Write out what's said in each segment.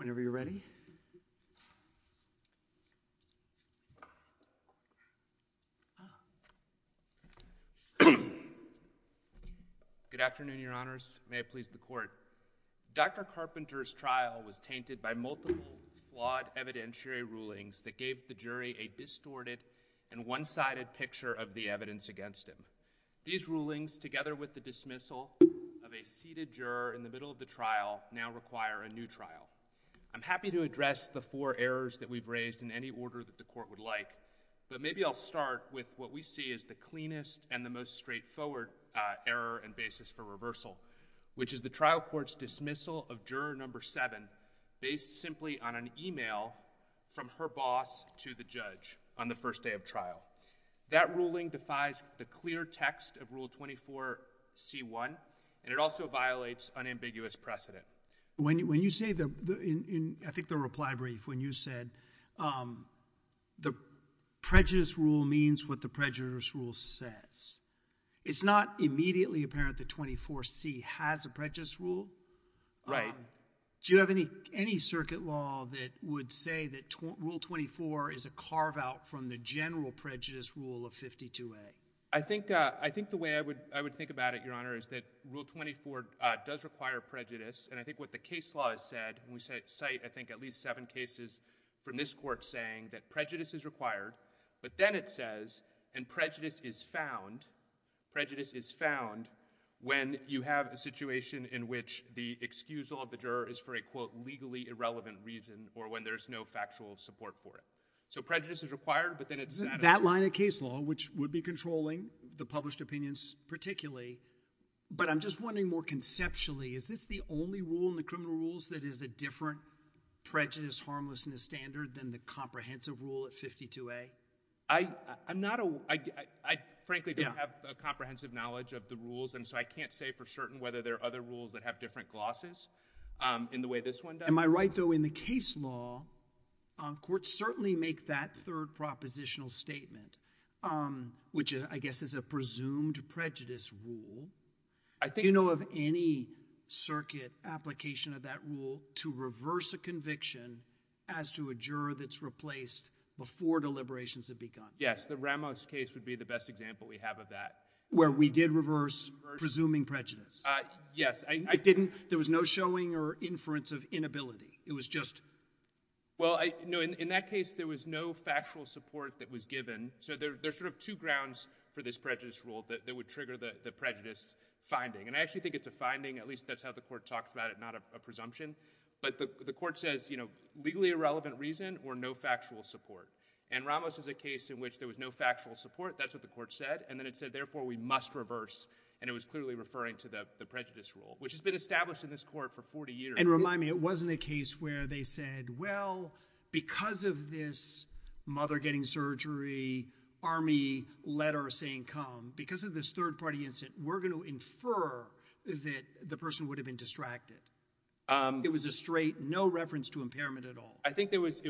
Good afternoon, your honors. May it please the court. Dr. Carpenter's trial was tainted by multiple flawed evidentiary rulings that gave the jury a distorted and one-sided picture of the evidence against him. These rulings, together with the dismissal of a seated juror in the middle of the trial, now require a new trial. I'm happy to address the four errors that we've raised in any order that the court would like, but maybe I'll start with what we see as the cleanest and the most straightforward error and basis for reversal, which is the trial court's dismissal of juror number seven based simply on an email from her boss to the judge on the first day of trial. That ruling defies the clear text of Rule 24C1, and it also violates unambiguous precedent. When you say, I think the reply brief, when you said the prejudice rule means what the prejudice rule says, it's not immediately apparent that 24C has a prejudice rule. Right. Do you have any circuit law that would say that Rule 24 is a carve-out from the general prejudice rule of 52A? I think the way I would think about it, Your Honor, is that Rule 24 does require prejudice, and I think what the case law has said, and we cite, I think, at least seven cases from this court saying that prejudice is required, but then it says, and prejudice is found, prejudice is found when you have a situation in which the excusal of the juror is for a, quote, legally irrelevant reason, or when there's no factual support for it. So prejudice is required, but then it's not. Isn't that line of case law, which would be controlling the published opinions particularly, but I'm just wondering more conceptually, is this the only rule in the criminal rules that is a different prejudice harmlessness standard than the comprehensive rule at 52A? I'm not a, I frankly don't have a comprehensive knowledge of the rules, and so I can't say for certain whether there are other rules that have different glosses in the way this one does. Am I right, though, in the case law, courts certainly make that third propositional statement, which I guess is a presumed prejudice rule. Do you know of any circuit application of that rule to reverse a conviction as to a juror that's replaced before deliberations have begun? Yes, the Ramos case would be the best example we have of that. Where we did reverse presuming prejudice? Yes. I didn't, there was no showing or inference of inability. It was just... Well, I know in that case there was no factual support that was given, so there's sort of two grounds for this prejudice rule that would trigger the prejudice finding, and I actually think it's a finding, at least that's how the court talks about it, not a presumption, but the court says, you know, legally irrelevant reason or no factual support, and Ramos is a case in which there was no factual support, that's what the court said, and then it said therefore we must reverse, and it was clearly referring to the prejudice rule, which has been established in this court for 40 years. And remind me, it wasn't a case where they said, well, because of this mother getting surgery, army letter saying come, because of this third party incident, we're going to infer that the person would have been distracted. It was a straight, no reference to impairment at all. I think there was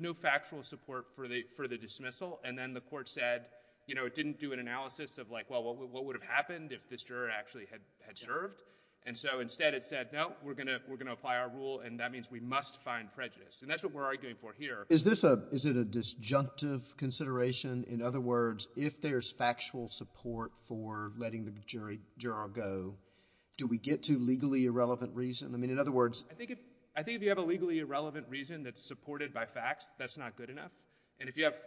no factual support for the dismissal, and then the court said, you know, it didn't do an analysis of like, well, what would have happened if this juror actually had served, and so instead it said, no, we're going to apply our rule, and that means we must find prejudice, and that's what we're arguing for here. Is this a, is it a disjunctive consideration? In other words, if there's factual support for letting the jury, juror go, do we get to legally irrelevant reason? I mean, in other words, I think if, I think if you have a legally irrelevant reason that's supported by facts, that's not good enough, and if you have,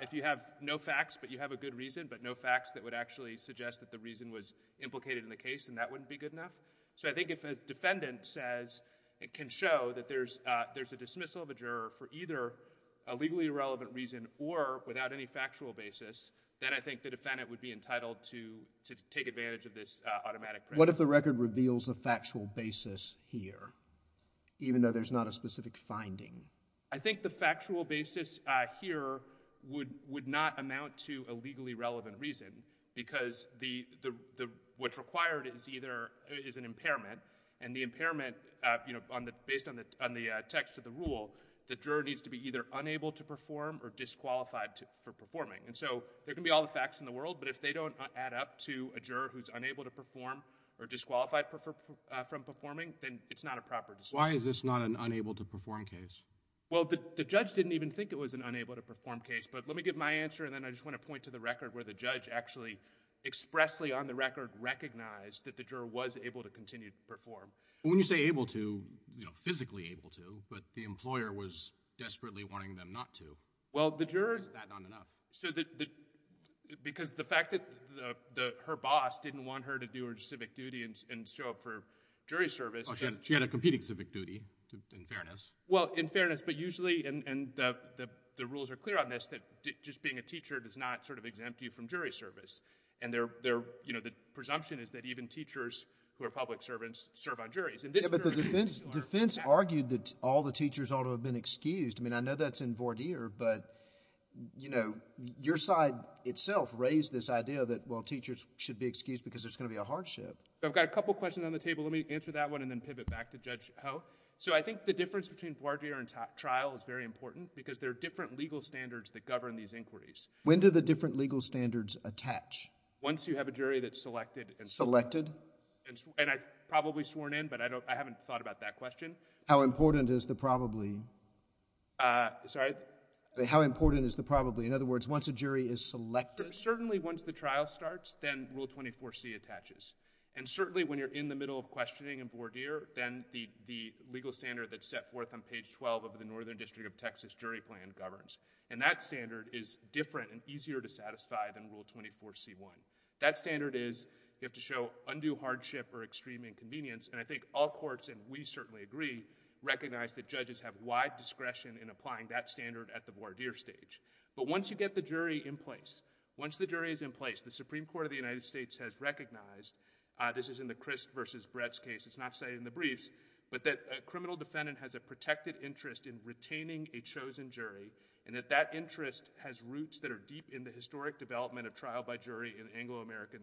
if you have no facts, but you have a good reason, but no facts that would actually suggest that the reason was implicated in the case, then that wouldn't be good enough, so I think if a defendant says, it can show that there's, there's a dismissal of a juror for either a legally irrelevant reason or without any factual basis, then I think the defendant would be entitled to, to take advantage of this automatic. What if the record reveals a factual basis here, even though there's not a specific finding? I think the factual basis, uh, here would, would not amount to a legally relevant reason, because the, the, the, what's required is either, is an impairment, and the impairment, uh, you know, on the, based on the, on the, uh, text of the rule, the juror needs to be either unable to perform or disqualified to, for performing, and so there can be all the facts in the world, but if they don't add up to a juror who's unable to perform or disqualified for, for, uh, from performing, then it's not a proper dismissal. Why is this not an unable to perform case? Well, the, the judge didn't even think it was an unable to perform case, but let me give my answer, and then I just want to point to the record where the judge actually expressly, on the record, recognized that the juror was able to continue to perform. When you say able to, you know, physically able to, but the employer was desperately wanting them not to. Well, the juror... Is that not enough? So the, the, because the fact that the, the, her boss didn't want her to do her civic duty and, and show up for jury service... Oh, she had, she had a competing civic duty, in fairness. Well, in fairness, but usually, and, and the, the, the rules are clear on this, that just being a teacher does not sort of exempt you from jury service, and they're, they're, you know, the presumption is that even teachers who are public servants serve on juries. Yeah, but the defense, defense argued that all the teachers ought to have been excused. I mean, I know that's in voir dire, but, you know, your side itself raised this idea that, well, teachers should be excused because there's going to be a hardship. I've got a couple questions on the table. Let me answer that one and then pivot back to Judge Ho. So I think the difference between voir dire and trial is very important, because there are different legal standards that govern these inquiries. When do the different legal standards attach? Once you have a jury that's selected and... Selected? And I've probably sworn in, but I don't, I haven't thought about that question. How important is the probably? Sorry? How important is the probably? In other words, once a jury is selected... Then Rule 24C attaches. And certainly, when you're in the middle of questioning in voir dire, then the legal standard that's set forth on page 12 of the Northern District of Texas Jury Plan governs. And that standard is different and easier to satisfy than Rule 24C1. That standard is, you have to show undue hardship or extreme inconvenience, and I think all courts, and we certainly agree, recognize that judges have wide discretion in applying that standard at the voir dire stage. But once you get the jury in place, once the jury is in place, the Supreme Court of the United States has recognized, this is in the Chris versus Brett's case, it's not cited in the briefs, but that a criminal defendant has a protected interest in retaining a chosen jury, and that that interest has roots that are deep in the historic development of trial by jury in Anglo-American,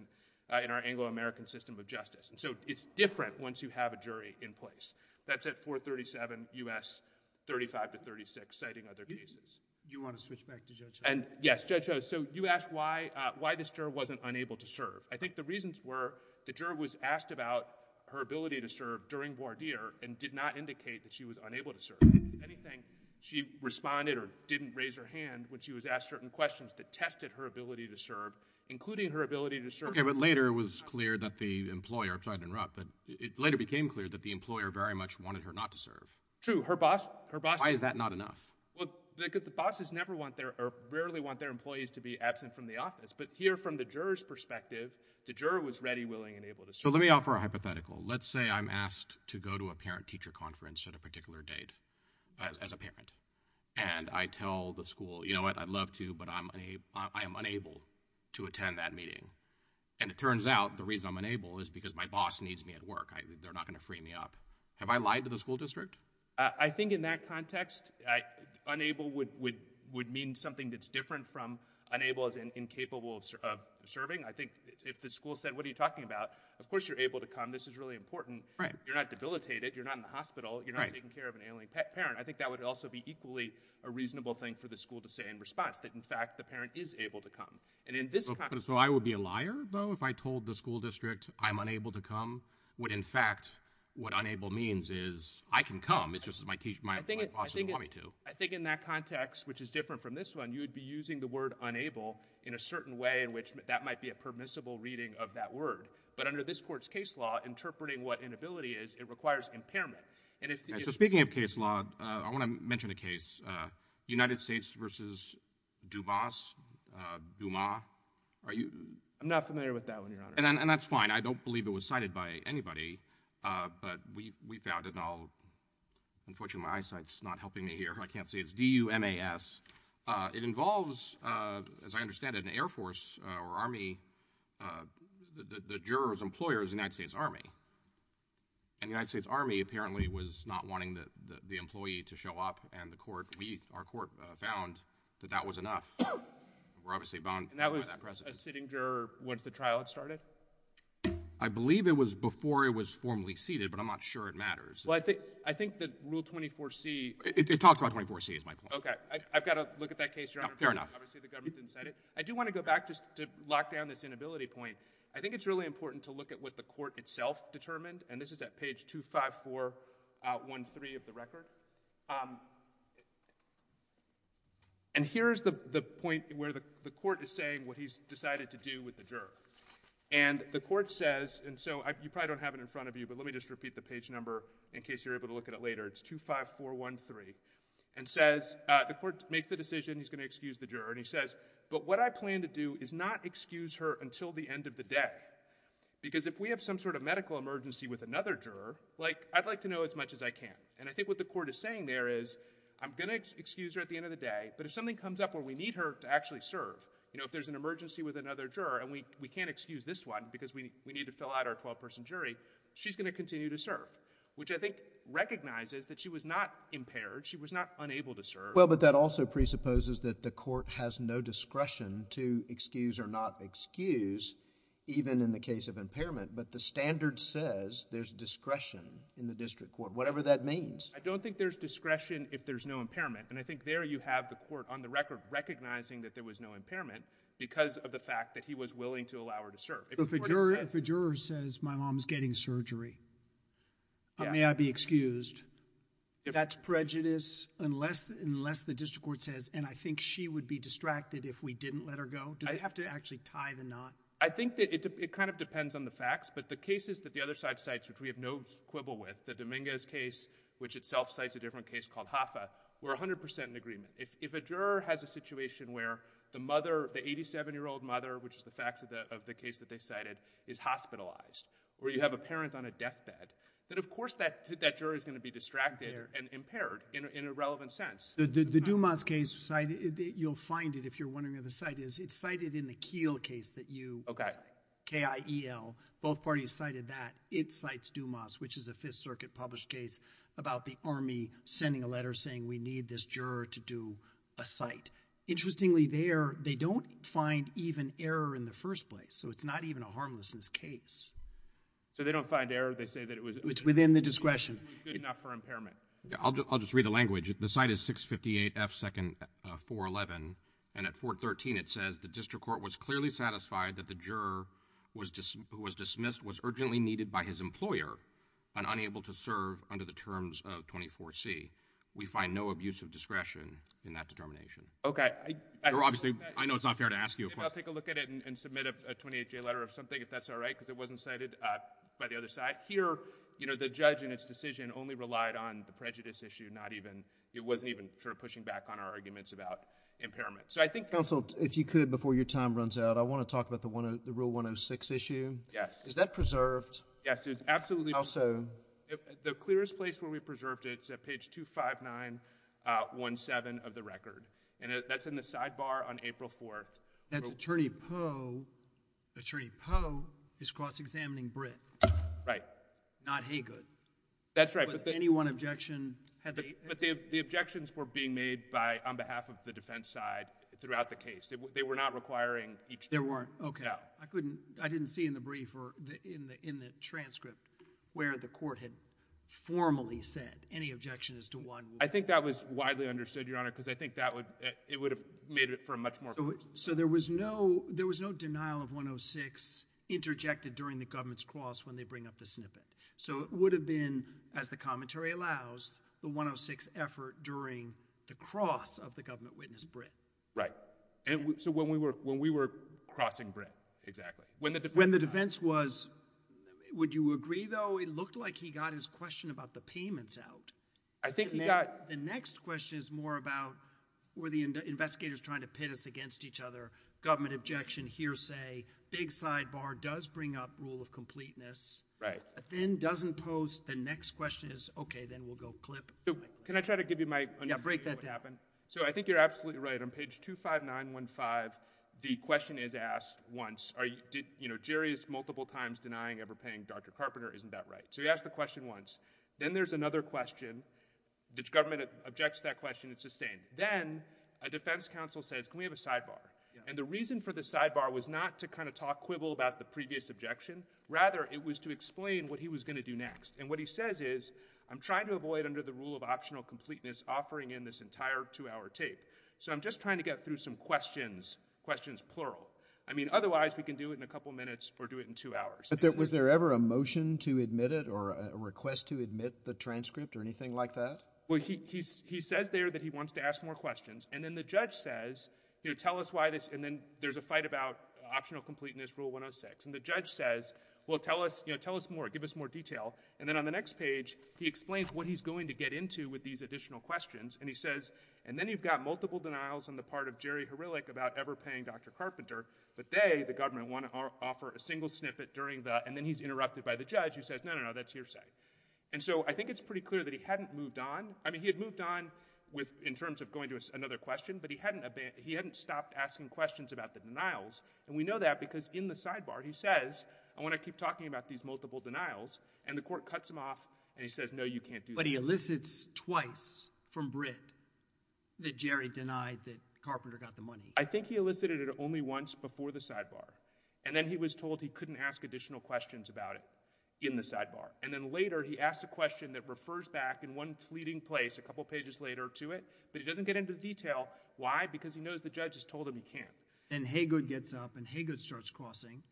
in our Anglo-American system of justice. And so, it's different once you have a jury in place. That's at 437 U.S. 35 to 36, citing other cases. You want to switch back to Judge Ho? Yes, Judge Ho. So, you asked why this juror wasn't unable to serve. I think the reasons were the juror was asked about her ability to serve during voir dire and did not indicate that she was unable to serve. If anything, she responded or didn't raise her hand when she was asked certain questions that tested her ability to serve, including her ability to serve— Okay, but later it was clear that the employer—I'm sorry to interrupt, but it later became clear that the employer very much wanted her not to serve. True. Her boss— Why is that not enough? Well, because the bosses never want their—or rarely want their employees to be absent from the office. But here, from the juror's perspective, the juror was ready, willing, and able to serve. So, let me offer a hypothetical. Let's say I'm asked to go to a parent-teacher conference at a particular date as a parent, and I tell the school, you know what, I'd love to, but I'm unable to attend that meeting. And it turns out the reason I'm unable is because my boss needs me at work. They're not going to free me up. Have I lied to the school district? I think in that context, unable would mean something that's different from unable as in incapable of serving. I think if the school said, what are you talking about? Of course you're able to come. This is really important. You're not debilitated. You're not in the hospital. You're not taking care of an ailing parent. I think that would also be equally a reasonable thing for the school to say in response, that in fact the parent is able to come. And in this context— So, I would be a liar, though, if I told the school district I'm unable to come, would in fact, what unable means is, I can come. It's just that my boss doesn't want me to. I think in that context, which is different from this one, you would be using the word unable in a certain way in which that might be a permissible reading of that word. But under this court's case law, interpreting what inability is, it requires impairment. And if— So speaking of case law, I want to mention a case, United States v. Dubas, Dumas. Are you— I'm not familiar with that one, Your Honor. And that's fine. I don't believe it was cited by anybody. But we found it, and unfortunately, my eyesight's not helping me here. I can't see. It's D-U-M-A-S. It involves, as I understand it, an Air Force or Army, the juror's employer is the United States Army. And the United States Army apparently was not wanting the employee to show up, and the court, we, our court, found that that was enough. We're obviously bound by that precedent. Once the trial had started? I believe it was before it was formally seated, but I'm not sure it matters. Well, I think that Rule 24C— It talks about 24C, is my point. Okay. I've got to look at that case, Your Honor. Fair enough. Obviously, the government didn't cite it. I do want to go back just to lock down this inability point. I think it's really important to look at what the court itself determined, and this is at page 25413 of the record. And here's the point where the court is saying what he's decided to do with the juror. And the court says, and so you probably don't have it in front of you, but let me just repeat the page number in case you're able to look at it later. It's 25413, and says, the court makes the decision he's going to excuse the juror. And he says, but what I plan to do is not excuse her until the end of the day, because if we have some sort of medical emergency with another juror, I'd like to know as much as I can. And I think what the court is saying there is, I'm going to excuse her at the end of the day, but if something comes up where we need her to actually serve, you know, if there's an emergency with another juror and we can't excuse this one because we need to fill out our 12-person jury, she's going to continue to serve, which I think recognizes that she was not impaired. She was not unable to serve. Well, but that also presupposes that the court has no discretion to excuse or not excuse even in the case of impairment, but the standard says there's discretion in the district court, whatever that means. I don't think there's discretion if there's no impairment. And I think there you have the court, on the record, recognizing that there was no impairment because of the fact that he was willing to allow her to serve. But if a juror says, my mom's getting surgery, may I be excused, that's prejudice unless the district court says, and I think she would be distracted if we didn't let her go? Do they have to actually tie the knot? I think that it kind of depends on the facts, but the cases that the other side cites, which we have no quibble with, the Dominguez case, which itself cites a different case called Hoffa, we're 100% in agreement. If a juror has a situation where the mother, the 87-year-old mother, which is the facts of the case that they cited, is hospitalized, or you have a parent on a deathbed, then of course that juror is going to be distracted and impaired in a relevant sense. The Dumas case, you'll find it if you're wondering where the site is, it's cited in the Kiel case that you cited, K-I-E-L, both parties cited that, it cites Dumas, which is a Fifth Circuit published case about the Army sending a letter saying we need this juror to do a cite. Interestingly there, they don't find even error in the first place, so it's not even a harmlessness case. So they don't find error, they say that it was... It's within the discretion. It was good enough for impairment. I'll just read the language. The site is 658 F. 411, and at 413 it says, the district court was clearly satisfied that the juror who was dismissed was urgently needed by his employer and unable to serve under the terms of 24C. We find no abuse of discretion in that determination. Okay. I know it's not fair to ask you a question. I'll take a look at it and submit a 28-J letter or something if that's all right, because it wasn't cited by the other side. Here, the judge and its prejudice issue, it wasn't even sort of pushing back on our arguments about impairment. So I think... Counsel, if you could, before your time runs out, I want to talk about the Rule 106 issue. Yes. Is that preserved? Yes, it's absolutely... How so? The clearest place where we preserved it is at page 25917 of the record, and that's in the sidebar on April 4th. That's Attorney Poe. Attorney Poe is cross-examining Britt. Right. Not Haygood. That's right, but... Any one objection had they... But the objections were being made by... on behalf of the defense side throughout the case. They were not requiring each... There weren't? No. I couldn't... I didn't see in the brief or in the transcript where the court had formally said any objection is to one... I think that was widely understood, Your Honor, because I think that would... it would have made it for a much more... So there was no... there was no denial of 106 interjected during the government's the snippet. So it would have been, as the commentary allows, the 106 effort during the cross of the government witness, Britt. Right. So when we were crossing Britt, exactly. When the defense... When the defense was... would you agree, though? It looked like he got his question about the payments out. I think he got... The next question is more about were the investigators trying to pit us against each other. Government objection, hearsay, big sidebar does bring up rule of completeness. But then doesn't pose... the next question is, okay, then we'll go clip. Can I try to give you my... Yeah, break that down. So I think you're absolutely right. On page 25915, the question is asked once, are you... you know, Jerry is multiple times denying ever paying Dr. Carpenter. Isn't that right? So he asked the question once. Then there's another question. The government objects to that question. It's sustained. Then a defense counsel says, can we have a sidebar? And the reason for the sidebar was not to kind of talk quibble about the previous objection. Rather, it was to explain what he was going to do next. And what he says is, I'm trying to avoid under the rule of optional completeness offering in this entire two-hour tape. So I'm just trying to get through some questions, questions plural. I mean, otherwise we can do it in a couple minutes or do it in two hours. But was there ever a motion to admit it or a request to admit the transcript or anything like that? He says there that he wants to ask more questions. And then the judge says, you know, tell us why this... and then there's a fight about optional completeness, Rule 106. And the judge says, well, tell us, you know, tell us more. Give us more detail. And then on the next page, he explains what he's going to get into with these additional questions. And he says, and then you've got multiple denials on the part of Jerry Herillic about ever paying Dr. Carpenter. But they, the government, want to offer a single snippet during the... and then he's interrupted by the judge who says, no, no, no, that's hearsay. And so I think it's pretty clear that he hadn't moved on. I mean, he had moved on with, in terms of going to another question, but he hadn't, he hadn't stopped asking questions about the denials. And we know that because in the sidebar, he says, I want to keep talking about these multiple denials. And the court cuts him off and he says, no, you can't do that. But he elicits twice from Britt that Jerry denied that Carpenter got the money. I think he elicited it only once before the sidebar. And then he was told he couldn't ask additional questions about it in the sidebar. And then later he asked a question that refers back in one fleeting place a couple pages later to it, but he doesn't get into the detail. Why? Because he knows the judge has told him he can't. And Haygood gets up and Haygood starts crossing.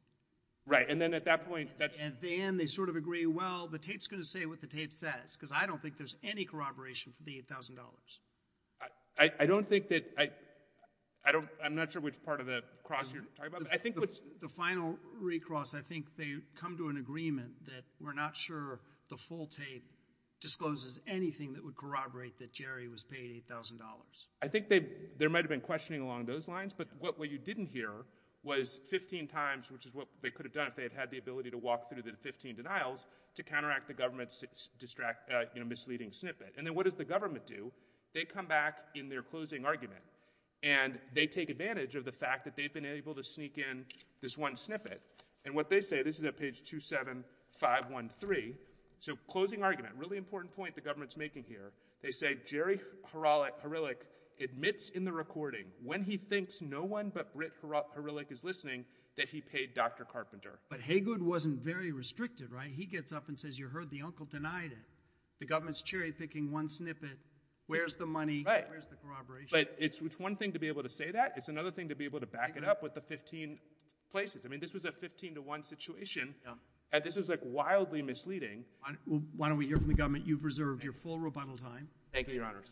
Right. And then at that point, that's... And then they sort of agree, well, the tape's going to say what the tape says, because I don't think there's any corroboration for the $8,000. I, I don't think that, I, I don't, I'm not sure which part of the cross you're talking about. The final recross, I think they come to an agreement that we're not sure the full tape discloses anything that would corroborate that Jerry was paid $8,000. I think they, there might've been questioning along those lines, but what, what you didn't hear was 15 times, which is what they could have done if they had had the ability to walk through the 15 denials to counteract the government's distract, uh, you know, misleading snippet. And then what does the government do? They come back in their closing argument and they take advantage of the fact that they've been able to sneak in this one snippet. And what they say, this is at page two, seven, five, one, three. So closing argument, really important point the government's making here. They say, Jerry Huralik admits in the recording when he thinks no one but Britt Huralik is listening that he paid Dr. Carpenter. But Haygood wasn't very restricted, right? He gets up and says, you heard the uncle denied it. The government's cherry picking one snippet. Where's the money? Where's the corroboration? But it's, it's one thing to be able to say that. It's another thing to be able to back it up with the 15 places. I mean, this was a 15 to one situation and this was like wildly misleading. Why don't we hear from the government? You've reserved your full rebuttal time. Thank you, your honors.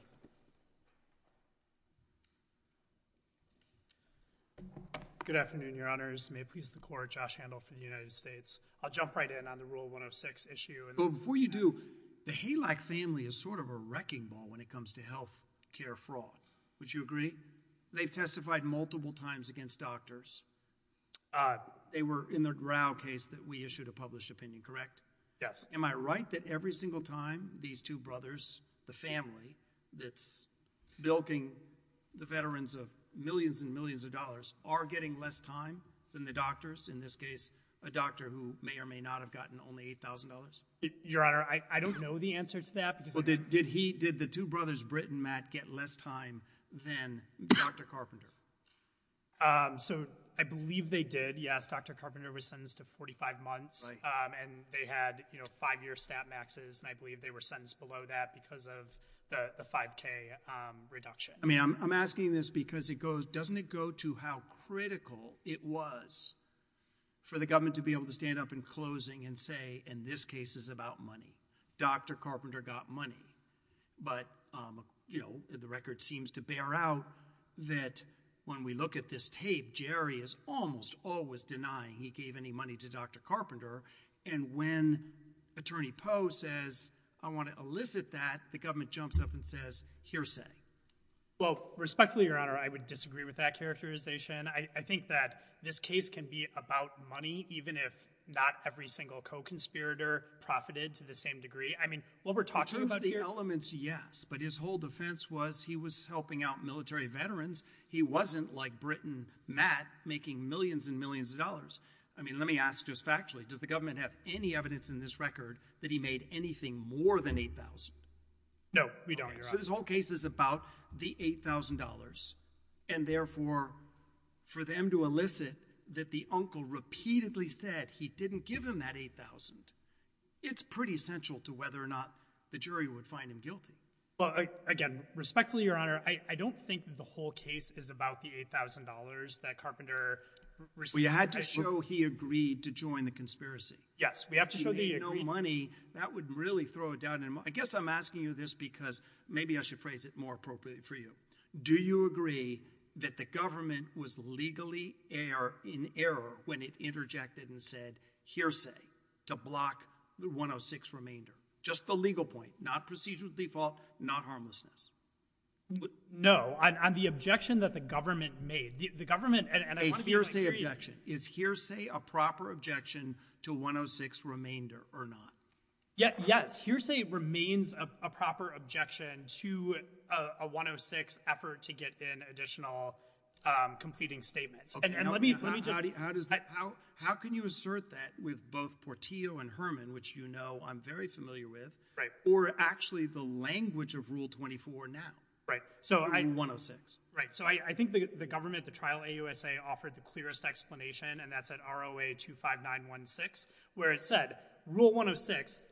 Good afternoon, your honors. May it please the court, Josh Handel for the United States. I'll jump right in on the rule 106 issue. Before you do, the Halak family is sort of a wrecking ball when it comes to health care fraud. Would you agree? They've testified multiple times against doctors. They were in their Grau case that we issued a published opinion, correct? Yes. Am I right that every single time these two brothers, the family that's bilking the veterans of millions and millions of dollars are getting less time than the doctors? In this case, a doctor who may or may not have gotten only $8,000? Your honor, I don't know the answer to that. Did the two brothers, Britt and Matt, get less time than Dr. Carpenter? I believe they did. Yes, Dr. Carpenter was sentenced to 45 months and they had five-year stat maxes and I believe they were sentenced below that because of the 5K reduction. I mean, I'm asking this because doesn't it go to how critical it was for the government to be able to stand up in closing and say, in this case, it's about money. Dr. Carpenter got money. But, you know, the record seems to bear out that when we look at this tape, Jerry is almost always denying he gave any money to Dr. Carpenter and when Attorney Poe says, I want to elicit that, the government jumps up and says, hearsay. Well, respectfully, your honor, I would disagree with that characterization. I think that this case can be about money even if not every single co-conspirator profited to the same degree. I mean, what we're talking about here... In terms of the elements, yes, but his whole defense was he was helping out military veterans. He wasn't, like Britt and Matt, making millions and millions of dollars. I mean, let me ask just factually, does the government have any evidence in this record that he made anything more than $8,000? No, we don't, your honor. His whole case is about the $8,000 and therefore, for them to elicit that the uncle repeatedly said he didn't give him that $8,000, it's pretty central to whether or not the jury would find him guilty. Well, again, respectfully, your honor, I don't think the whole case is about the $8,000 that Carpenter received. Well, you had to show he agreed to join the conspiracy. Yes, we have to show that he agreed. He made no money. That would really throw it down. I guess I'm asking you this because maybe I should phrase it more appropriately for you. Do you agree that the government was legally in error when it interjected and said hearsay to block the 106 remainder? Just the legal point, not procedural default, not harmlessness. No, on the objection that the government made, the government... A hearsay objection. Is hearsay a proper objection to 106 remainder or not? Yes. Hearsay remains a proper objection to a 106 effort to get in additional completing statements. How can you assert that with both Portillo and Herman, which you know I'm very familiar with, or actually the language of Rule 24 now? 106. Right. I think the government, the trial AUSA offered the clearest explanation and that's at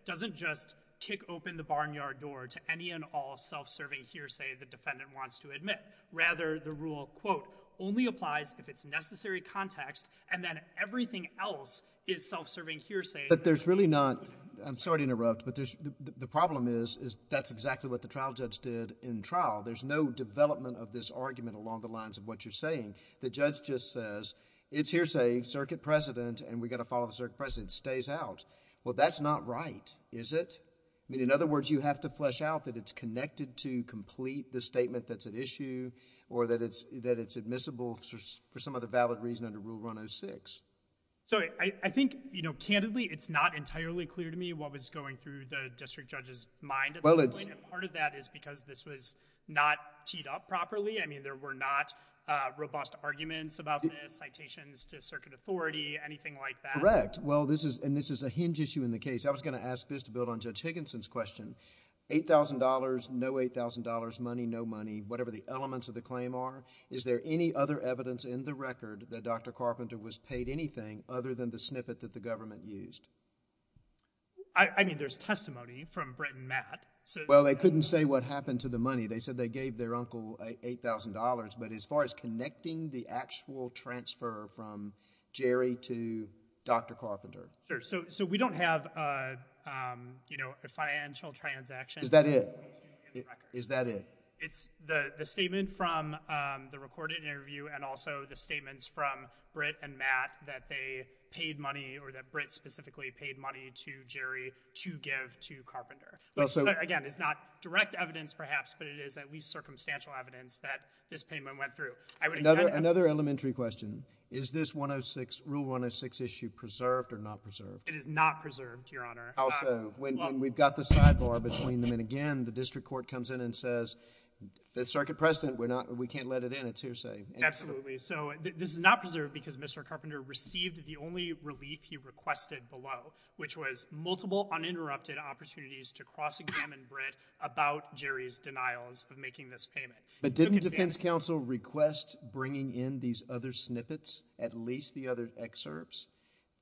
doesn't just kick open the barnyard door to any and all self-serving hearsay the defendant wants to admit. Rather, the rule, quote, only applies if it's necessary context and then everything else is self-serving hearsay. But there's really not... I'm sorry to interrupt, but the problem is that's exactly what the trial judge did in trial. There's no development of this argument along the lines of what you're saying. The judge just says, it's hearsay, circuit precedent, and we got to follow the circuit precedent. It stays out. Well, that's not right, is it? I mean, in other words, you have to flesh out that it's connected to complete the statement that's at issue or that it's admissible for some other valid reason under Rule 106. So I think, you know, candidly, it's not entirely clear to me what was going through the district judge's mind at that point. And part of that is because this was not teed up properly. I mean, there were not robust arguments about this, citations to circuit authority, anything like that. Well, this is a hinge issue in the case. I was going to ask this to build on Judge Higginson's question. $8,000, no $8,000, money, no money, whatever the elements of the claim are. Is there any other evidence in the record that Dr. Carpenter was paid anything other than the snippet that the government used? I mean, there's testimony from Brett and Matt. Well, they couldn't say what happened to the money. They said they gave their uncle $8,000. But as far as connecting the actual transfer from Jerry to Dr. Carpenter? Sure. So we don't have, you know, a financial transaction. Is that it? Is that it? It's the statement from the recorded interview and also the statements from Brett and Matt that they paid money or that Brett specifically paid money to Jerry to give to Carpenter. Again, it's not direct evidence, perhaps, but it is at least circumstantial evidence that this payment went through. Another elementary question. Is this Rule 106 issue preserved or not preserved? It is not preserved, Your Honor. Also, when we've got the sidebar between them, and again, the district court comes in and says, the circuit precedent, we can't let it in. It's hearsay. Absolutely. So this is not preserved because Mr. Carpenter received the only relief he requested below, which was multiple uninterrupted opportunities to cross-examine Brett about Jerry's denials of making this payment. But didn't the defense counsel request bringing in these other snippets, at least the other excerpts,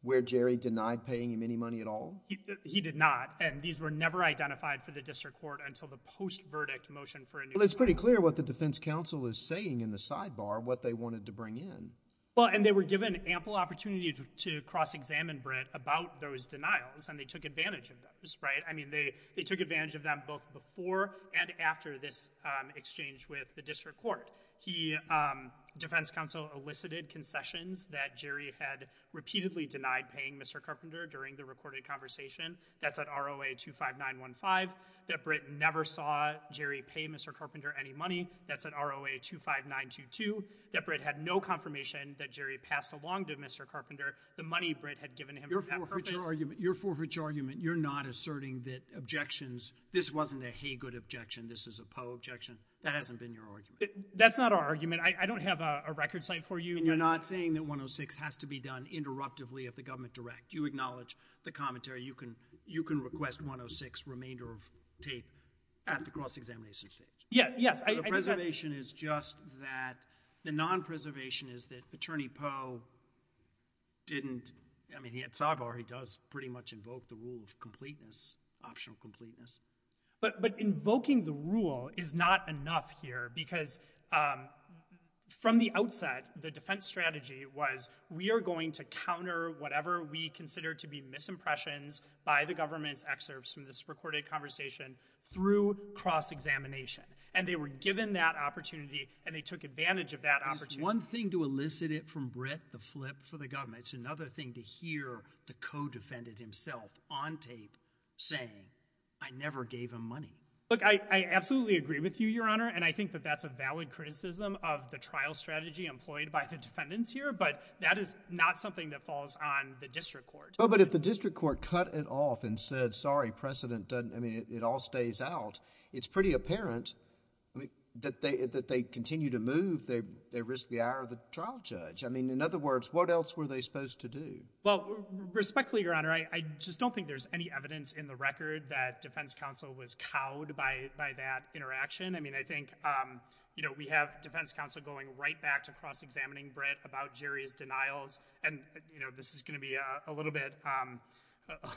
where Jerry denied paying him any money at all? He did not, and these were never identified for the district court until the post-verdict motion for a new ruling. Well, it's pretty clear what the defense counsel is saying in the sidebar, what they wanted to bring in. Well, and they were given ample opportunity to cross-examine Brett about those denials, and they took advantage of those, right? I mean, they took advantage of them both before and after this exchange with the district court. The defense counsel elicited concessions that Jerry had repeatedly denied paying Mr. Carpenter during the recorded conversation, that's at ROA 25915, that Brett never saw Jerry pay Mr. Carpenter any money, that's at ROA 25922, that Brett had no confirmation that Jerry passed along to Mr. Carpenter the money Brett had given him for that purpose. Your forfeiture argument, you're not asserting that objections, this wasn't a Haygood objection, this is a Poe objection, that hasn't been your argument? That's not our argument, I don't have a record site for you. And you're not saying that 106 has to be done interruptively if the government directs, you acknowledge the commentary, you can request 106 remainder of tape at the cross-examination stage? Yeah, yes. So the preservation is just that, the non-preservation is that Attorney Poe didn't, I mean, he had sidebar, he does pretty much invoke the rule of completeness, optional completeness. But, but invoking the rule is not enough here because, um, from the outset, the defense strategy was we are going to counter whatever we consider to be misimpressions by the government's excerpts from this recorded conversation through cross-examination. And they were given that opportunity and they took advantage of that opportunity. One thing to elicit it from Brett, the flip for the government, it's another thing to hear the co-defendant himself on tape saying, I never gave him money. Look, I, I absolutely agree with you, Your Honor. And I think that that's a valid criticism of the trial strategy employed by the defendants here. But that is not something that falls on the district court. Oh, but if the district court cut it off and said, sorry, precedent doesn't, I mean, it all stays out. It's pretty apparent, I mean, that they, that they continue to move. They, they risk the hour of the trial judge. I mean, in other words, what else were they supposed to do? Well, respectfully, Your Honor, I, I just don't think there's any evidence in the record that defense counsel was cowed by, by that interaction. I mean, I think, um, you know, we have defense counsel going right back to cross-examining Brett about Jerry's denials. And, you know, this is going to be a little bit, um,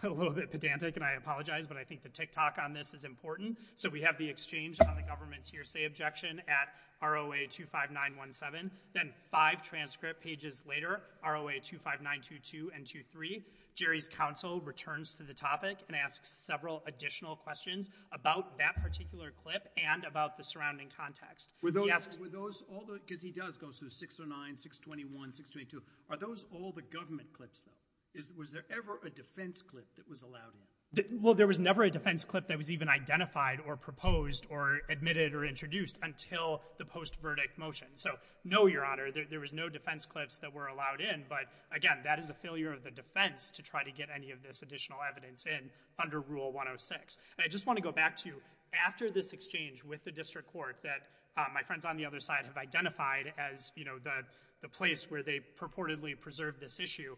a little bit pedantic and I apologize, but I think the tick-tock on this is important. So we have the exchange on the government's hearsay objection at ROA 25917. Then five transcript pages later, ROA 25922 and 23, Jerry's counsel returns to the topic and asks several additional questions about that particular clip and about the surrounding context. Were those, were those all the, because he does go through 609, 621, 622. Are those all the government clips though? Is, was there ever a defense clip that was allowed in? Well, there was never a defense clip that was even identified or proposed or admitted or introduced until the post-verdict motion. So no, Your Honor, there, there was no defense clips that were allowed in. But again, that is a failure of the defense to try to get any of this additional evidence in under Rule 106. And I just want to go back to after this exchange with the district court that, um, my friends on the other side have identified as, you know, the, the place where they purportedly preserved this issue.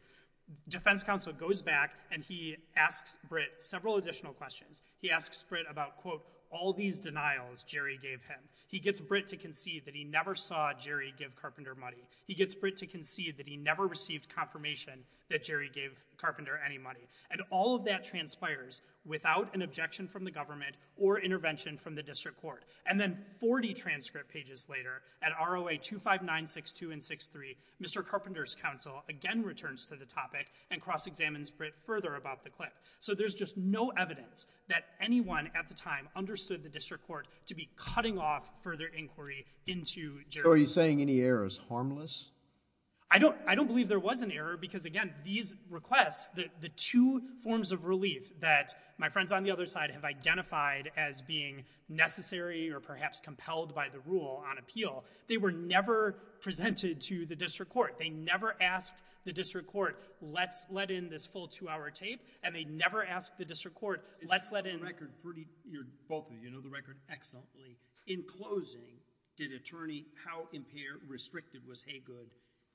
Defense counsel goes back and he asks Brett several additional questions. He asks Brett about, quote, all these denials Jerry gave him. He gets Brett to concede that he never saw Jerry give Carpenter money. He gets Brett to concede that he never received confirmation that Jerry gave Carpenter any money. And all of that transpires without an objection from the government or intervention from the district court. And then 40 transcript pages later at ROA 25962 and 63, Mr. Carpenter's counsel again returns to the topic and cross-examines Brett further about the clip. So there's just no evidence that anyone at the time understood the district court to be cutting off further inquiry into Jerry. So are you saying any error is harmless? I don't, I don't believe there was an error because again, these requests, the, the two forms of relief that my friends on the other side have identified as being necessary or perhaps compelled by the rule on appeal, they were never presented to the district court. They never asked the district court, let's let in this full two-hour tape. And they never asked the district court, let's let in... You know the record excellently. In closing, did attorney, how impaired, restricted was Haygood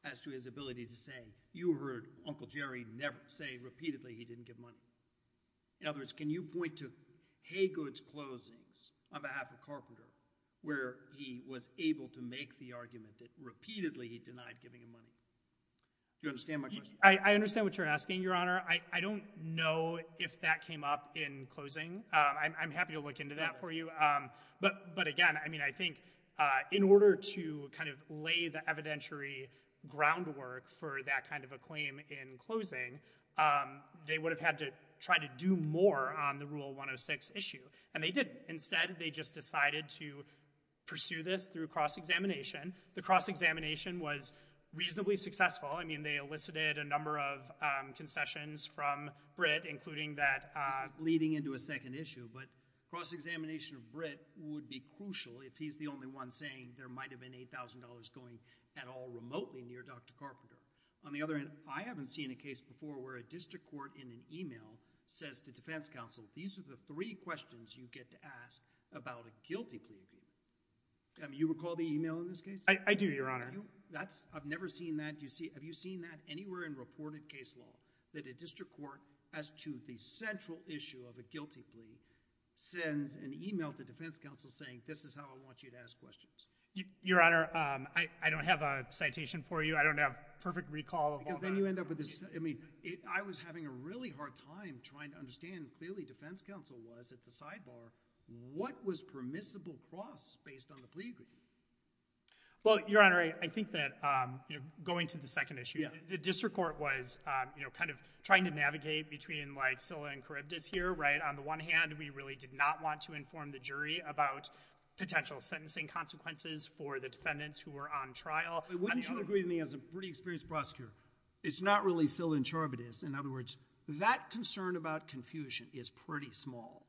as to his ability to say, you heard Uncle Jerry never say repeatedly he didn't give money? In other words, can you point to Haygood's closings on behalf of Carpenter where he was able to make the argument that repeatedly he denied giving him money? Do you understand my question? I, I understand what you're asking, Your Honor. I, I don't know if that came up in closing. I'm, I'm happy to look into that for you. But, but again, I mean, I think in order to kind of lay the evidentiary groundwork for that kind of a claim in closing, they would have had to try to do more on the Rule 106 issue. And they didn't. Instead, they just decided to pursue this through cross-examination. The cross-examination was reasonably successful. I mean, they elicited a number of concessions from BRIT, including that... But cross-examination of BRIT would be crucial if he's the only one saying there might have been $8,000 going at all remotely near Dr. Carpenter. On the other hand, I haven't seen a case before where a district court in an email says to defense counsel, these are the three questions you get to ask about a guilty plea appeal. Um, you recall the email in this case? I, I do, Your Honor. That's, I've never seen that. You see, have you seen that anywhere in reported case law? That a district court, as to the central issue of a guilty plea, sends an email to defense counsel saying, this is how I want you to ask questions. Your Honor, um, I, I don't have a citation for you. I don't have perfect recall of all that. Because then you end up with this, I mean, it, I was having a really hard time trying to understand, clearly defense counsel was at the sidebar. What was permissible cross based on the plea agreement? Well, Your Honor, I, I think that, um, you know, going to the second issue. Yeah. The district court was, um, you know, kind of trying to navigate between, like, SILA and Charybdis here, right? On the one hand, we really did not want to inform the jury about potential sentencing consequences for the defendants who were on trial. But wouldn't you agree with me as a pretty experienced prosecutor, it's not really SILA and Charybdis. In other words, that concern about confusion is pretty small.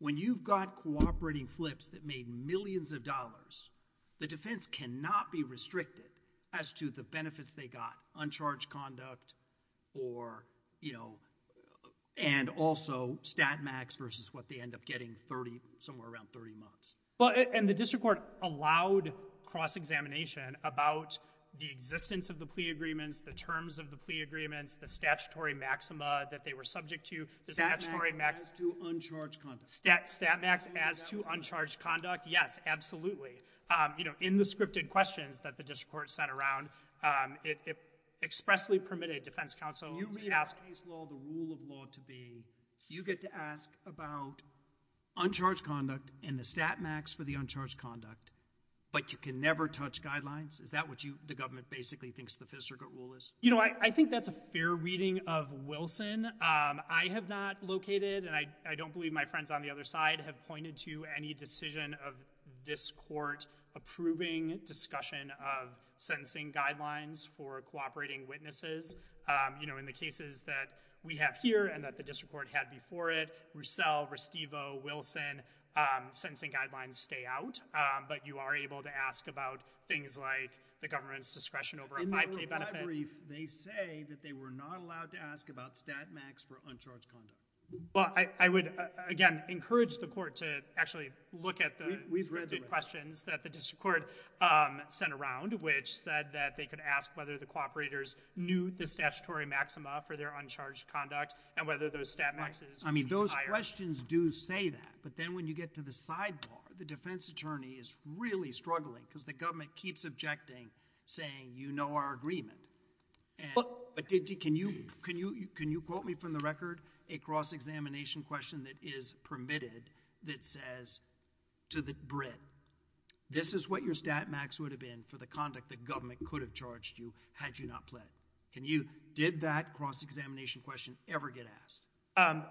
When you've got cooperating flips that made millions of dollars, the defense cannot be restricted as to the benefits they got. Uncharged conduct or, you know, and also stat max versus what they end up getting 30, somewhere around 30 months. Well, and the district court allowed cross-examination about the existence of the plea agreements, the terms of the plea agreements, the statutory maxima that they were subject to. Stat max as to uncharged conduct. Stat max as to uncharged conduct, yes, absolutely. You know, in the scripted questions that the district court sent around, it expressly permitted defense counsel to ask— You made a case law the rule of law to be, you get to ask about uncharged conduct and the stat max for the uncharged conduct, but you can never touch guidelines? Is that what you, the government, basically thinks the district court rule is? You know, I think that's a fair reading of Wilson. I have not located, and I don't believe my friends on the other side have pointed to any decision of this court approving discussion of sentencing guidelines for cooperating witnesses. You know, in the cases that we have here and that the district court had before it, Roussel, Restivo, Wilson, sentencing guidelines stay out, but you are able to ask about things like the government's discretion over a 5K benefit. In their reply brief, they say that they were not allowed to ask about stat max for uncharged conduct. Well, I would, again, encourage the court to actually look at the questions that the district court sent around, which said that they could ask whether the cooperators knew the statutory maxima for their uncharged conduct and whether those stat maxes— I mean, those questions do say that, but then when you get to the sidebar, the defense attorney is really struggling because the government keeps objecting, saying, you know our agreement. But can you quote me from the record a cross-examination question that is permitted that says to the Brit, this is what your stat max would have been for the conduct the government could have charged you had you not pled. Did that cross-examination question ever get asked?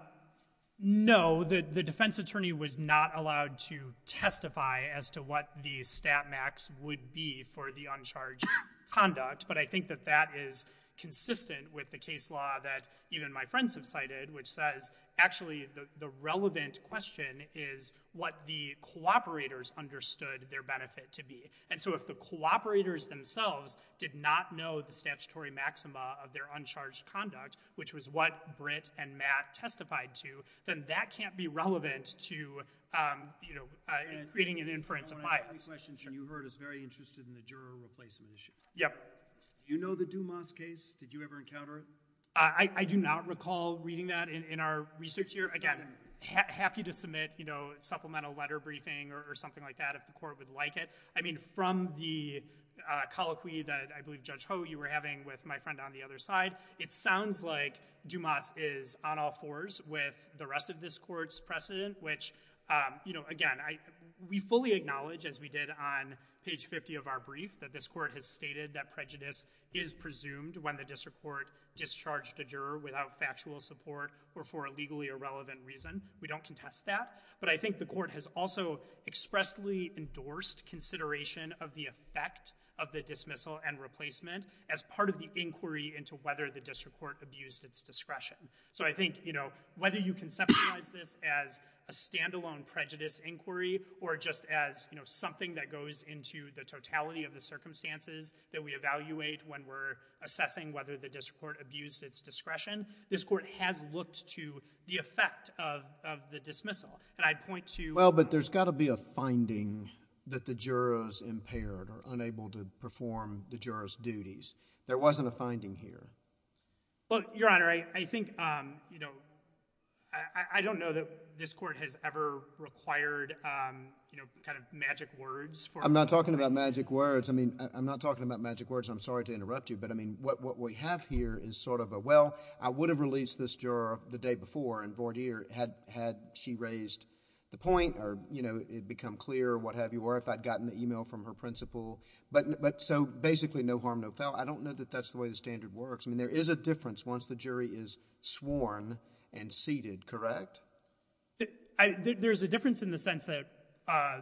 No, the defense attorney was not allowed to testify as to what the stat max would be for the uncharged conduct. But I think that that is consistent with the case law that even my friends have cited, which says actually the relevant question is what the cooperators understood their benefit to be. And so if the cooperators themselves did not know the statutory maxima of their uncharged conduct, which was what Brit and Matt testified to, then that can't be relevant to, you know, creating an inference of bias. I have two questions you heard is very interested in the juror replacement issue. Yep. You know the Dumas case? Did you ever encounter it? I do not recall reading that in our research here. Again, happy to submit, you know, supplemental letter briefing or something like that if the court would like it. I mean, from the colloquy that I believe Judge Ho you were having with my friend on the other side, it sounds like Dumas is on all fours with the rest of this court's precedent. Which, you know, again, we fully acknowledge, as we did on page 50 of our brief, that this court has stated that prejudice is presumed when the district court discharged a juror without factual support or for a legally irrelevant reason. We don't contest that. But I think the court has also expressly endorsed consideration of the effect of the dismissal and replacement as part of the inquiry into whether the district court abused its discretion. So I think, you know, whether you conceptualize this as a standalone prejudice inquiry or just as, you know, something that goes into the totality of the circumstances that we evaluate when we're assessing whether the district court abused its discretion, this court has looked to the effect of the dismissal. And I'd point to— Well, but there's got to be a finding that the juror is impaired or unable to perform the juror's duties. There wasn't a finding here. Well, Your Honor, I think, you know, I don't know that this court has ever required, you know, kind of magic words for— I'm not talking about magic words. I mean, I'm not talking about magic words. I'm sorry to interrupt you. But, I mean, what we have here is sort of a, well, I would have released this juror the day before, and, voir dire, had she raised the point or, you know, it become clear or what have you, or if I'd gotten the email from her principal. But so, basically, no harm, no foul. I don't know that that's the way the standard works. I mean, there is a difference once the jury is sworn and seated, correct? There's a difference in the sense that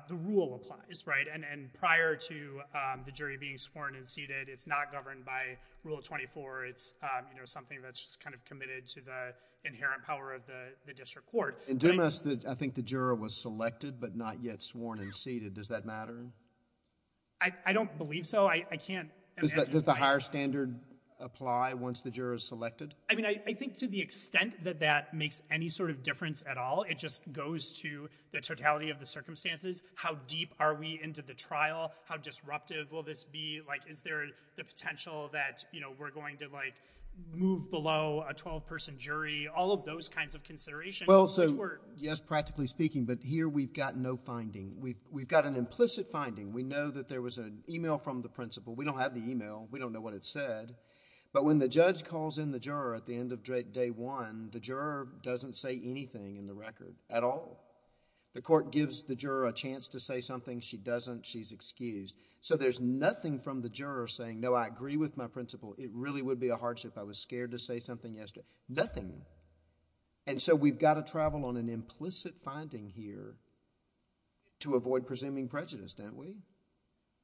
the rule applies, right? And prior to the jury being sworn and seated, it's not governed by Rule 24. It's, you know, something that's just kind of committed to the inherent power of the district court. In Dumas, I think the juror was selected but not yet sworn and seated. Does that matter? I don't believe so. I can't imagine— Does the higher standard apply once the juror is selected? I mean, I think to the extent that that makes any sort of difference at all, it just goes to the totality of the circumstances. How deep are we into the trial? How disruptive will this be? Like, is there the potential that, you know, we're going to, like, move below a 12-person jury? All of those kinds of considerations— Well, so, yes, practically speaking. But here we've got no finding. We've got an implicit finding. We know that there was an email from the principal. We don't have the email. We don't know what it said. But when the judge calls in the juror at the end of day one, the juror doesn't say anything in the record at all. The court gives the juror a chance to say something. She doesn't. She's excused. So, there's nothing from the juror saying, no, I agree with my principal. It really would be a hardship. I was scared to say something yesterday. Nothing. And so, we've got to travel on an implicit finding here to avoid presuming prejudice, don't we?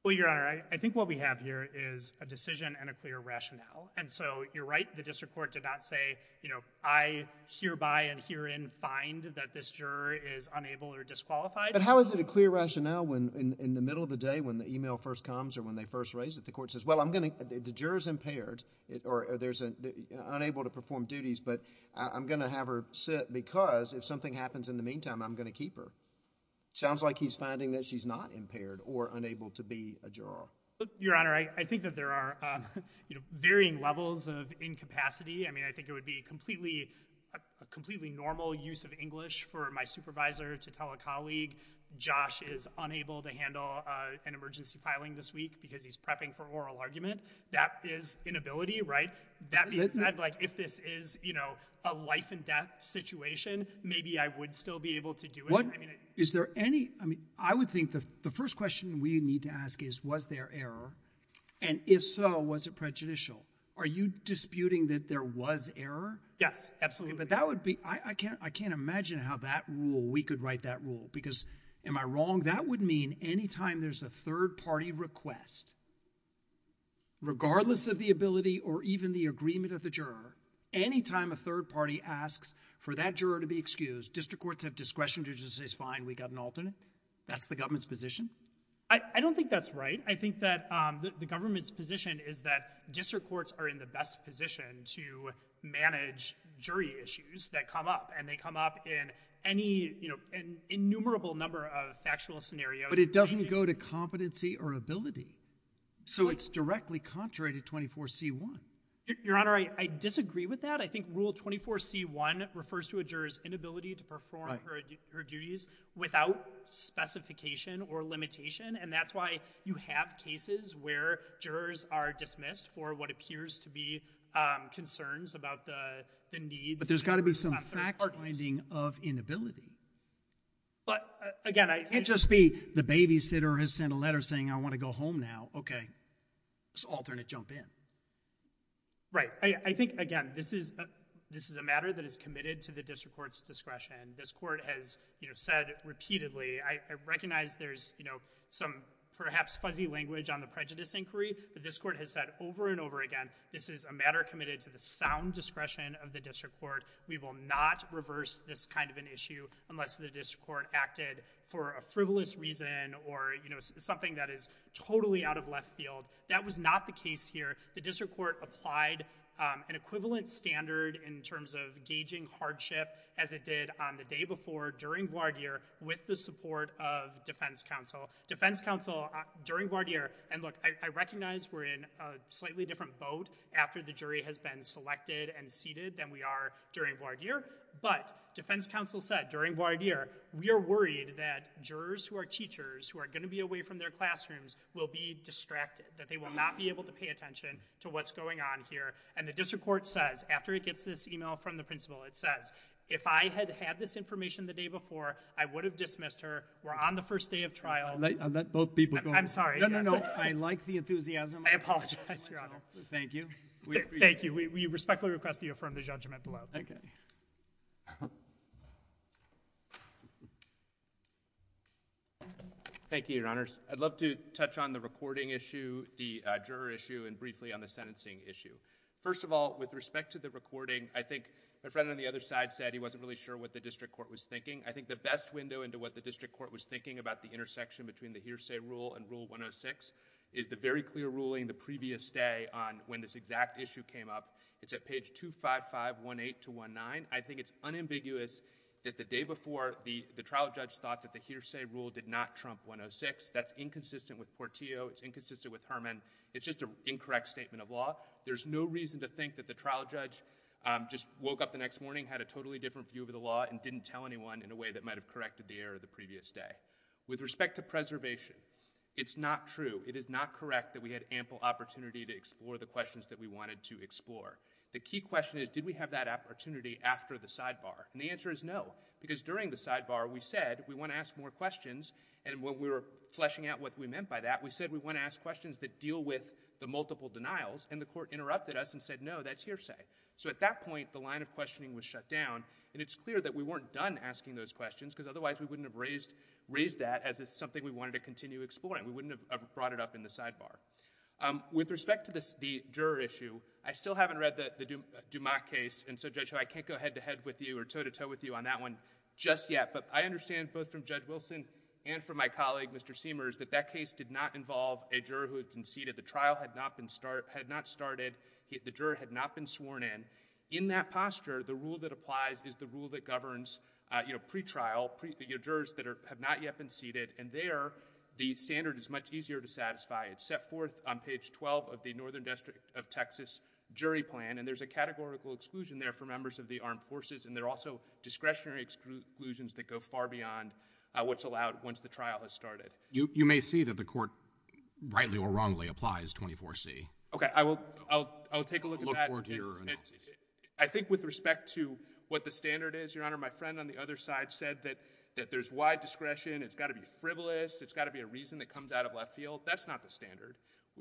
Well, Your Honor, I think what we have here is a decision and a clear rationale. And so, you're right. The district court did not say, you know, I hereby and herein find that this juror is unable or disqualified. But how is it a clear rationale when, in the middle of the day, when the email first comes or when they first raise it, the court says, well, I'm going to—the juror's impaired or there's an—unable to perform duties, but I'm going to have her sit because if something happens in the meantime, I'm going to keep her. Sounds like he's finding that she's not impaired or unable to be a juror. Your Honor, I think that there are, you know, varying levels of incapacity. I mean, I think it would be completely—a completely normal use of English for my supervisor to tell a colleague, Josh is unable to handle an emergency filing this week because he's prepping for oral argument. That is inability, right? That being said, like, if this is, you know, a life and death situation, maybe I would still be able to do it. Is there any—I mean, I would think the first question we need to ask is, was there error? And if so, was it prejudicial? Are you disputing that there was error? Yes, absolutely. But that would be—I can't imagine how that rule—we could write that rule because, am I wrong? That would mean anytime there's a third-party request, regardless of the ability or even the agreement of the juror, anytime a third party asks for that juror to be excused, district courts have discretion to just say, fine, we got an alternate? That's the government's position? I don't think that's right. I think that the government's position is that district courts are in the best position to manage jury issues that come up. And they come up in any, you know, innumerable number of factual scenarios. But it doesn't go to competency or ability. So it's directly contrary to 24C1. Your Honor, I disagree with that. I think Rule 24C1 refers to a juror's inability to perform her duties without specification or limitation. And that's why you have cases where jurors are dismissed for what appears to be concerns about the needs. But there's got to be some fact-finding of inability. But, again, I— Can't just be the babysitter has sent a letter saying, I want to go home now. Okay, this alternate jumped in. Right. I think, again, this is a matter that is committed to the district court's discretion. This court has said repeatedly, I recognize there's some perhaps fuzzy language on the prejudice inquiry. But this court has said over and over again, this is a matter committed to the sound discretion of the district court. We will not reverse this kind of an issue unless the district court acted for a frivolous reason or something that is totally out of left field. That was not the case here. The district court applied an equivalent standard in terms of gauging hardship as it did on the day before during voir dire with the support of defense counsel. Defense counsel during voir dire, and look, I recognize we're in a slightly different boat after the jury has been selected and seated than we are during voir dire. But defense counsel said during voir dire, we are worried that jurors who are teachers who are going to be away from their classrooms will be distracted, that they will not be able to pay attention to what's going on here. And the district court says, after it gets this email from the principal, it says, if I had had this information the day before, I would have dismissed her, were on the first day of trial. I'll let both people go. I'm sorry. No, no, no. I like the enthusiasm. I apologize, Your Honor. Thank you. Thank you. We respectfully request that you affirm the judgment below. Thank you. Thank you, Your Honors. I'd love to touch on the recording issue. The juror issue, and briefly on the sentencing issue. First of all, with respect to the recording, I think the friend on the other side said he wasn't really sure what the district court was thinking. I think the best window into what the district court was thinking about the intersection between the hearsay rule and Rule 106 is the very clear ruling the previous day on when this exact issue came up. It's at page 25518-19. I think it's unambiguous that the day before, the trial judge thought that the hearsay rule did not trump 106. That's inconsistent with Portillo. It's inconsistent with Herman. It's just an incorrect statement of law. There's no reason to think that the trial judge just woke up the next morning, had a totally different view of the law, and didn't tell anyone in a way that might have corrected the error the previous day. With respect to preservation, it's not true. It is not correct that we had ample opportunity to explore the questions that we wanted to The key question is, did we have that opportunity after the sidebar? And the answer is no, because during the sidebar, we said, we want to ask more questions. And when we were fleshing out what we meant by that, we said we want to ask questions that deal with the multiple denials, and the court interrupted us and said no, that's hearsay. So at that point, the line of questioning was shut down, and it's clear that we weren't done asking those questions, because otherwise we wouldn't have raised that as something we wanted to continue exploring. We wouldn't have brought it up in the sidebar. With respect to the juror issue, I still haven't read the Dumas case, and so Judge Ho, I can't go head-to-head with you or toe-to-toe with you on that one just yet, but I understand both from Judge Wilson and from my colleague, Mr. Seamers, that that case did not involve a juror who had conceded. The trial had not been started, the juror had not been sworn in. In that posture, the rule that applies is the rule that governs, you know, pretrial, jurors that have not yet been seated, and there, the standard is much easier to satisfy. It's set forth on page 12 of the Northern District of Texas jury plan, and there's a categorical exclusion there for members of the armed forces, and there are also discretionary exclusions that go far beyond what's allowed once the trial has started. You may see that the court, rightly or wrongly, applies 24C. Okay, I will take a look at that. I think with respect to what the standard is, Your Honor, my friend on the other side said that there's wide discretion, it's got to be frivolous, it's got to be a reason that comes out of left field. That's not the standard.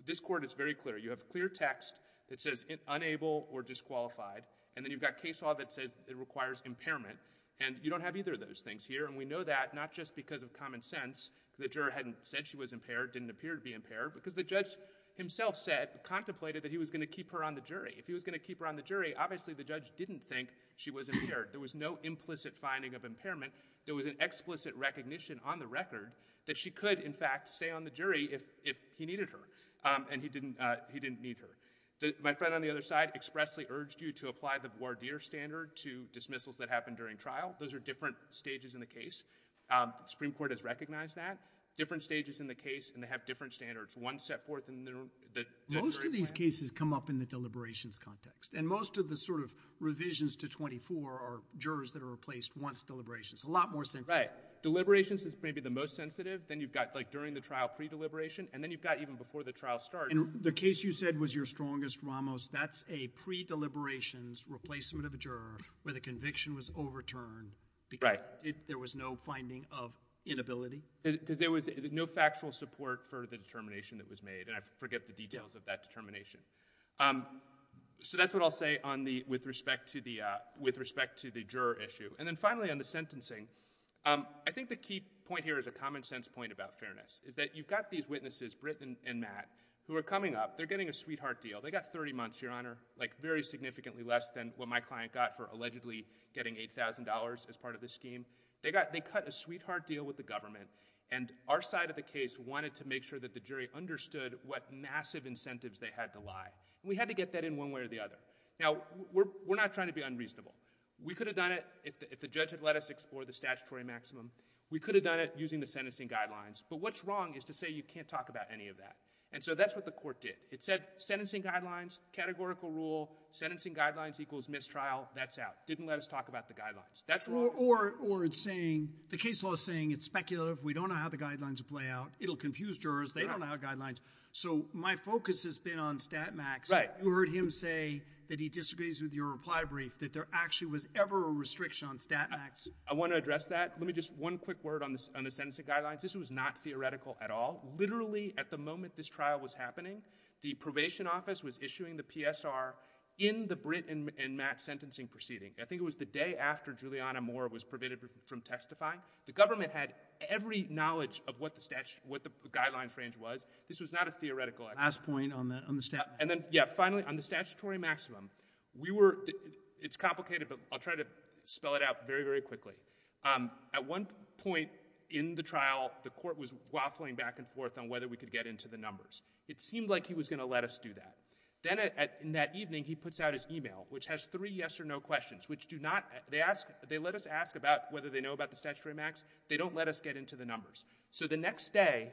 This court is very clear. You have clear text that says unable or disqualified, and then you've got case law that says it requires impairment, and you don't have either of those things here, and we know that not just because of common sense, the juror hadn't said she was impaired, didn't appear to be impaired, because the judge himself said, contemplated that he was going to keep her on the jury. If he was going to keep her on the jury, obviously the judge didn't think she was impaired. There was no implicit finding of impairment. There was an explicit recognition on the record that she could, in fact, stay on the jury if he needed her, and he didn't need her. My friend on the other side expressly urged you to apply the voir dire standard to dismissals that happened during trial. Those are different stages in the case. Supreme Court has recognized that. Different stages in the case, and they have different standards. One set forth in the jury plan. Most of these cases come up in the deliberations context, and most of the sort of revisions to 24 are jurors that are replaced once deliberations, a lot more sensitive. Right. Deliberations is maybe the most sensitive. Then you've got, like, during the trial, pre-deliberation, and then you've got even before the trial started. And the case you said was your strongest, Ramos, that's a pre-deliberations replacement of a juror where the conviction was overturned because there was no finding of inability? Because there was no factual support for the determination that was made, and I forget the details of that determination. So that's what I'll say with respect to the juror issue. And then finally on the sentencing, I think the key point here is a common sense point about fairness. Is that you've got these witnesses, Britt and Matt, who are coming up, they're getting a sweetheart deal. They got 30 months, Your Honor, like very significantly less than what my client got for allegedly getting $8,000 as part of the scheme. They got, they cut a sweetheart deal with the government, and our side of the case wanted to make sure that the jury understood what massive incentives they had to lie. We had to get that in one way or the other. Now we're not trying to be unreasonable. We could have done it if the judge had let us explore the statutory maximum. We could have done it using the sentencing guidelines. But what's wrong is to say you can't talk about any of that. And so that's what the court did. It said sentencing guidelines, categorical rule, sentencing guidelines equals mistrial. That's out. Didn't let us talk about the guidelines. That's wrong. Or it's saying, the case law is saying it's speculative. We don't know how the guidelines will play out. It'll confuse jurors. They don't know how guidelines. So my focus has been on StatMax. Right. You heard him say that he disagrees with your reply brief, that there actually was ever a restriction on StatMax. I want to address that. Let me just, one quick word on the sentencing guidelines. This was not theoretical at all. Literally at the moment this trial was happening, the probation office was issuing the PSR in the Britt and Matt sentencing proceeding. I think it was the day after Juliana Moore was prevented from testifying. The government had every knowledge of what the guidelines range was. This was not a theoretical. Last point on the StatMax. And then, yeah, finally, on the statutory maximum, we were, it's complicated, but I'll try to spell it out very, very quickly. At one point in the trial, the court was waffling back and forth on whether we could get into the numbers. It seemed like he was going to let us do that. Then in that evening, he puts out his email, which has three yes or no questions, which do not, they ask, they let us ask about whether they know about the statutory max. They don't let us get into the numbers. So the next day,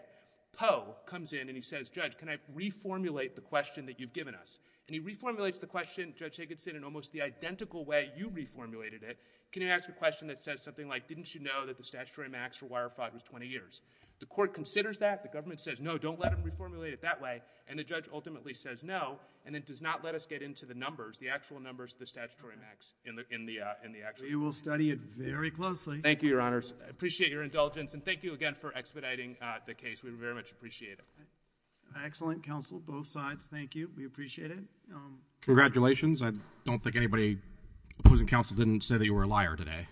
Poe comes in and he says, Judge, can I reformulate the question that you've given us? And he reformulates the question, Judge Higginson, in almost the identical way you reformulated it. Can you ask a question that says something like, didn't you know that the statutory max for wire fraud was 20 years? The court considers that. The government says, no, don't let them reformulate it that way. And the judge ultimately says no, and then does not let us get into the numbers, the actual numbers of the statutory max in the actual case. You will study it very closely. Thank you, Your Honors. I appreciate your indulgence. And thank you again for expediting the case. We very much appreciate it. Excellent. Counsel, both sides. Thank you. We appreciate it. I don't think anybody, opposing counsel, didn't say that you were a liar today.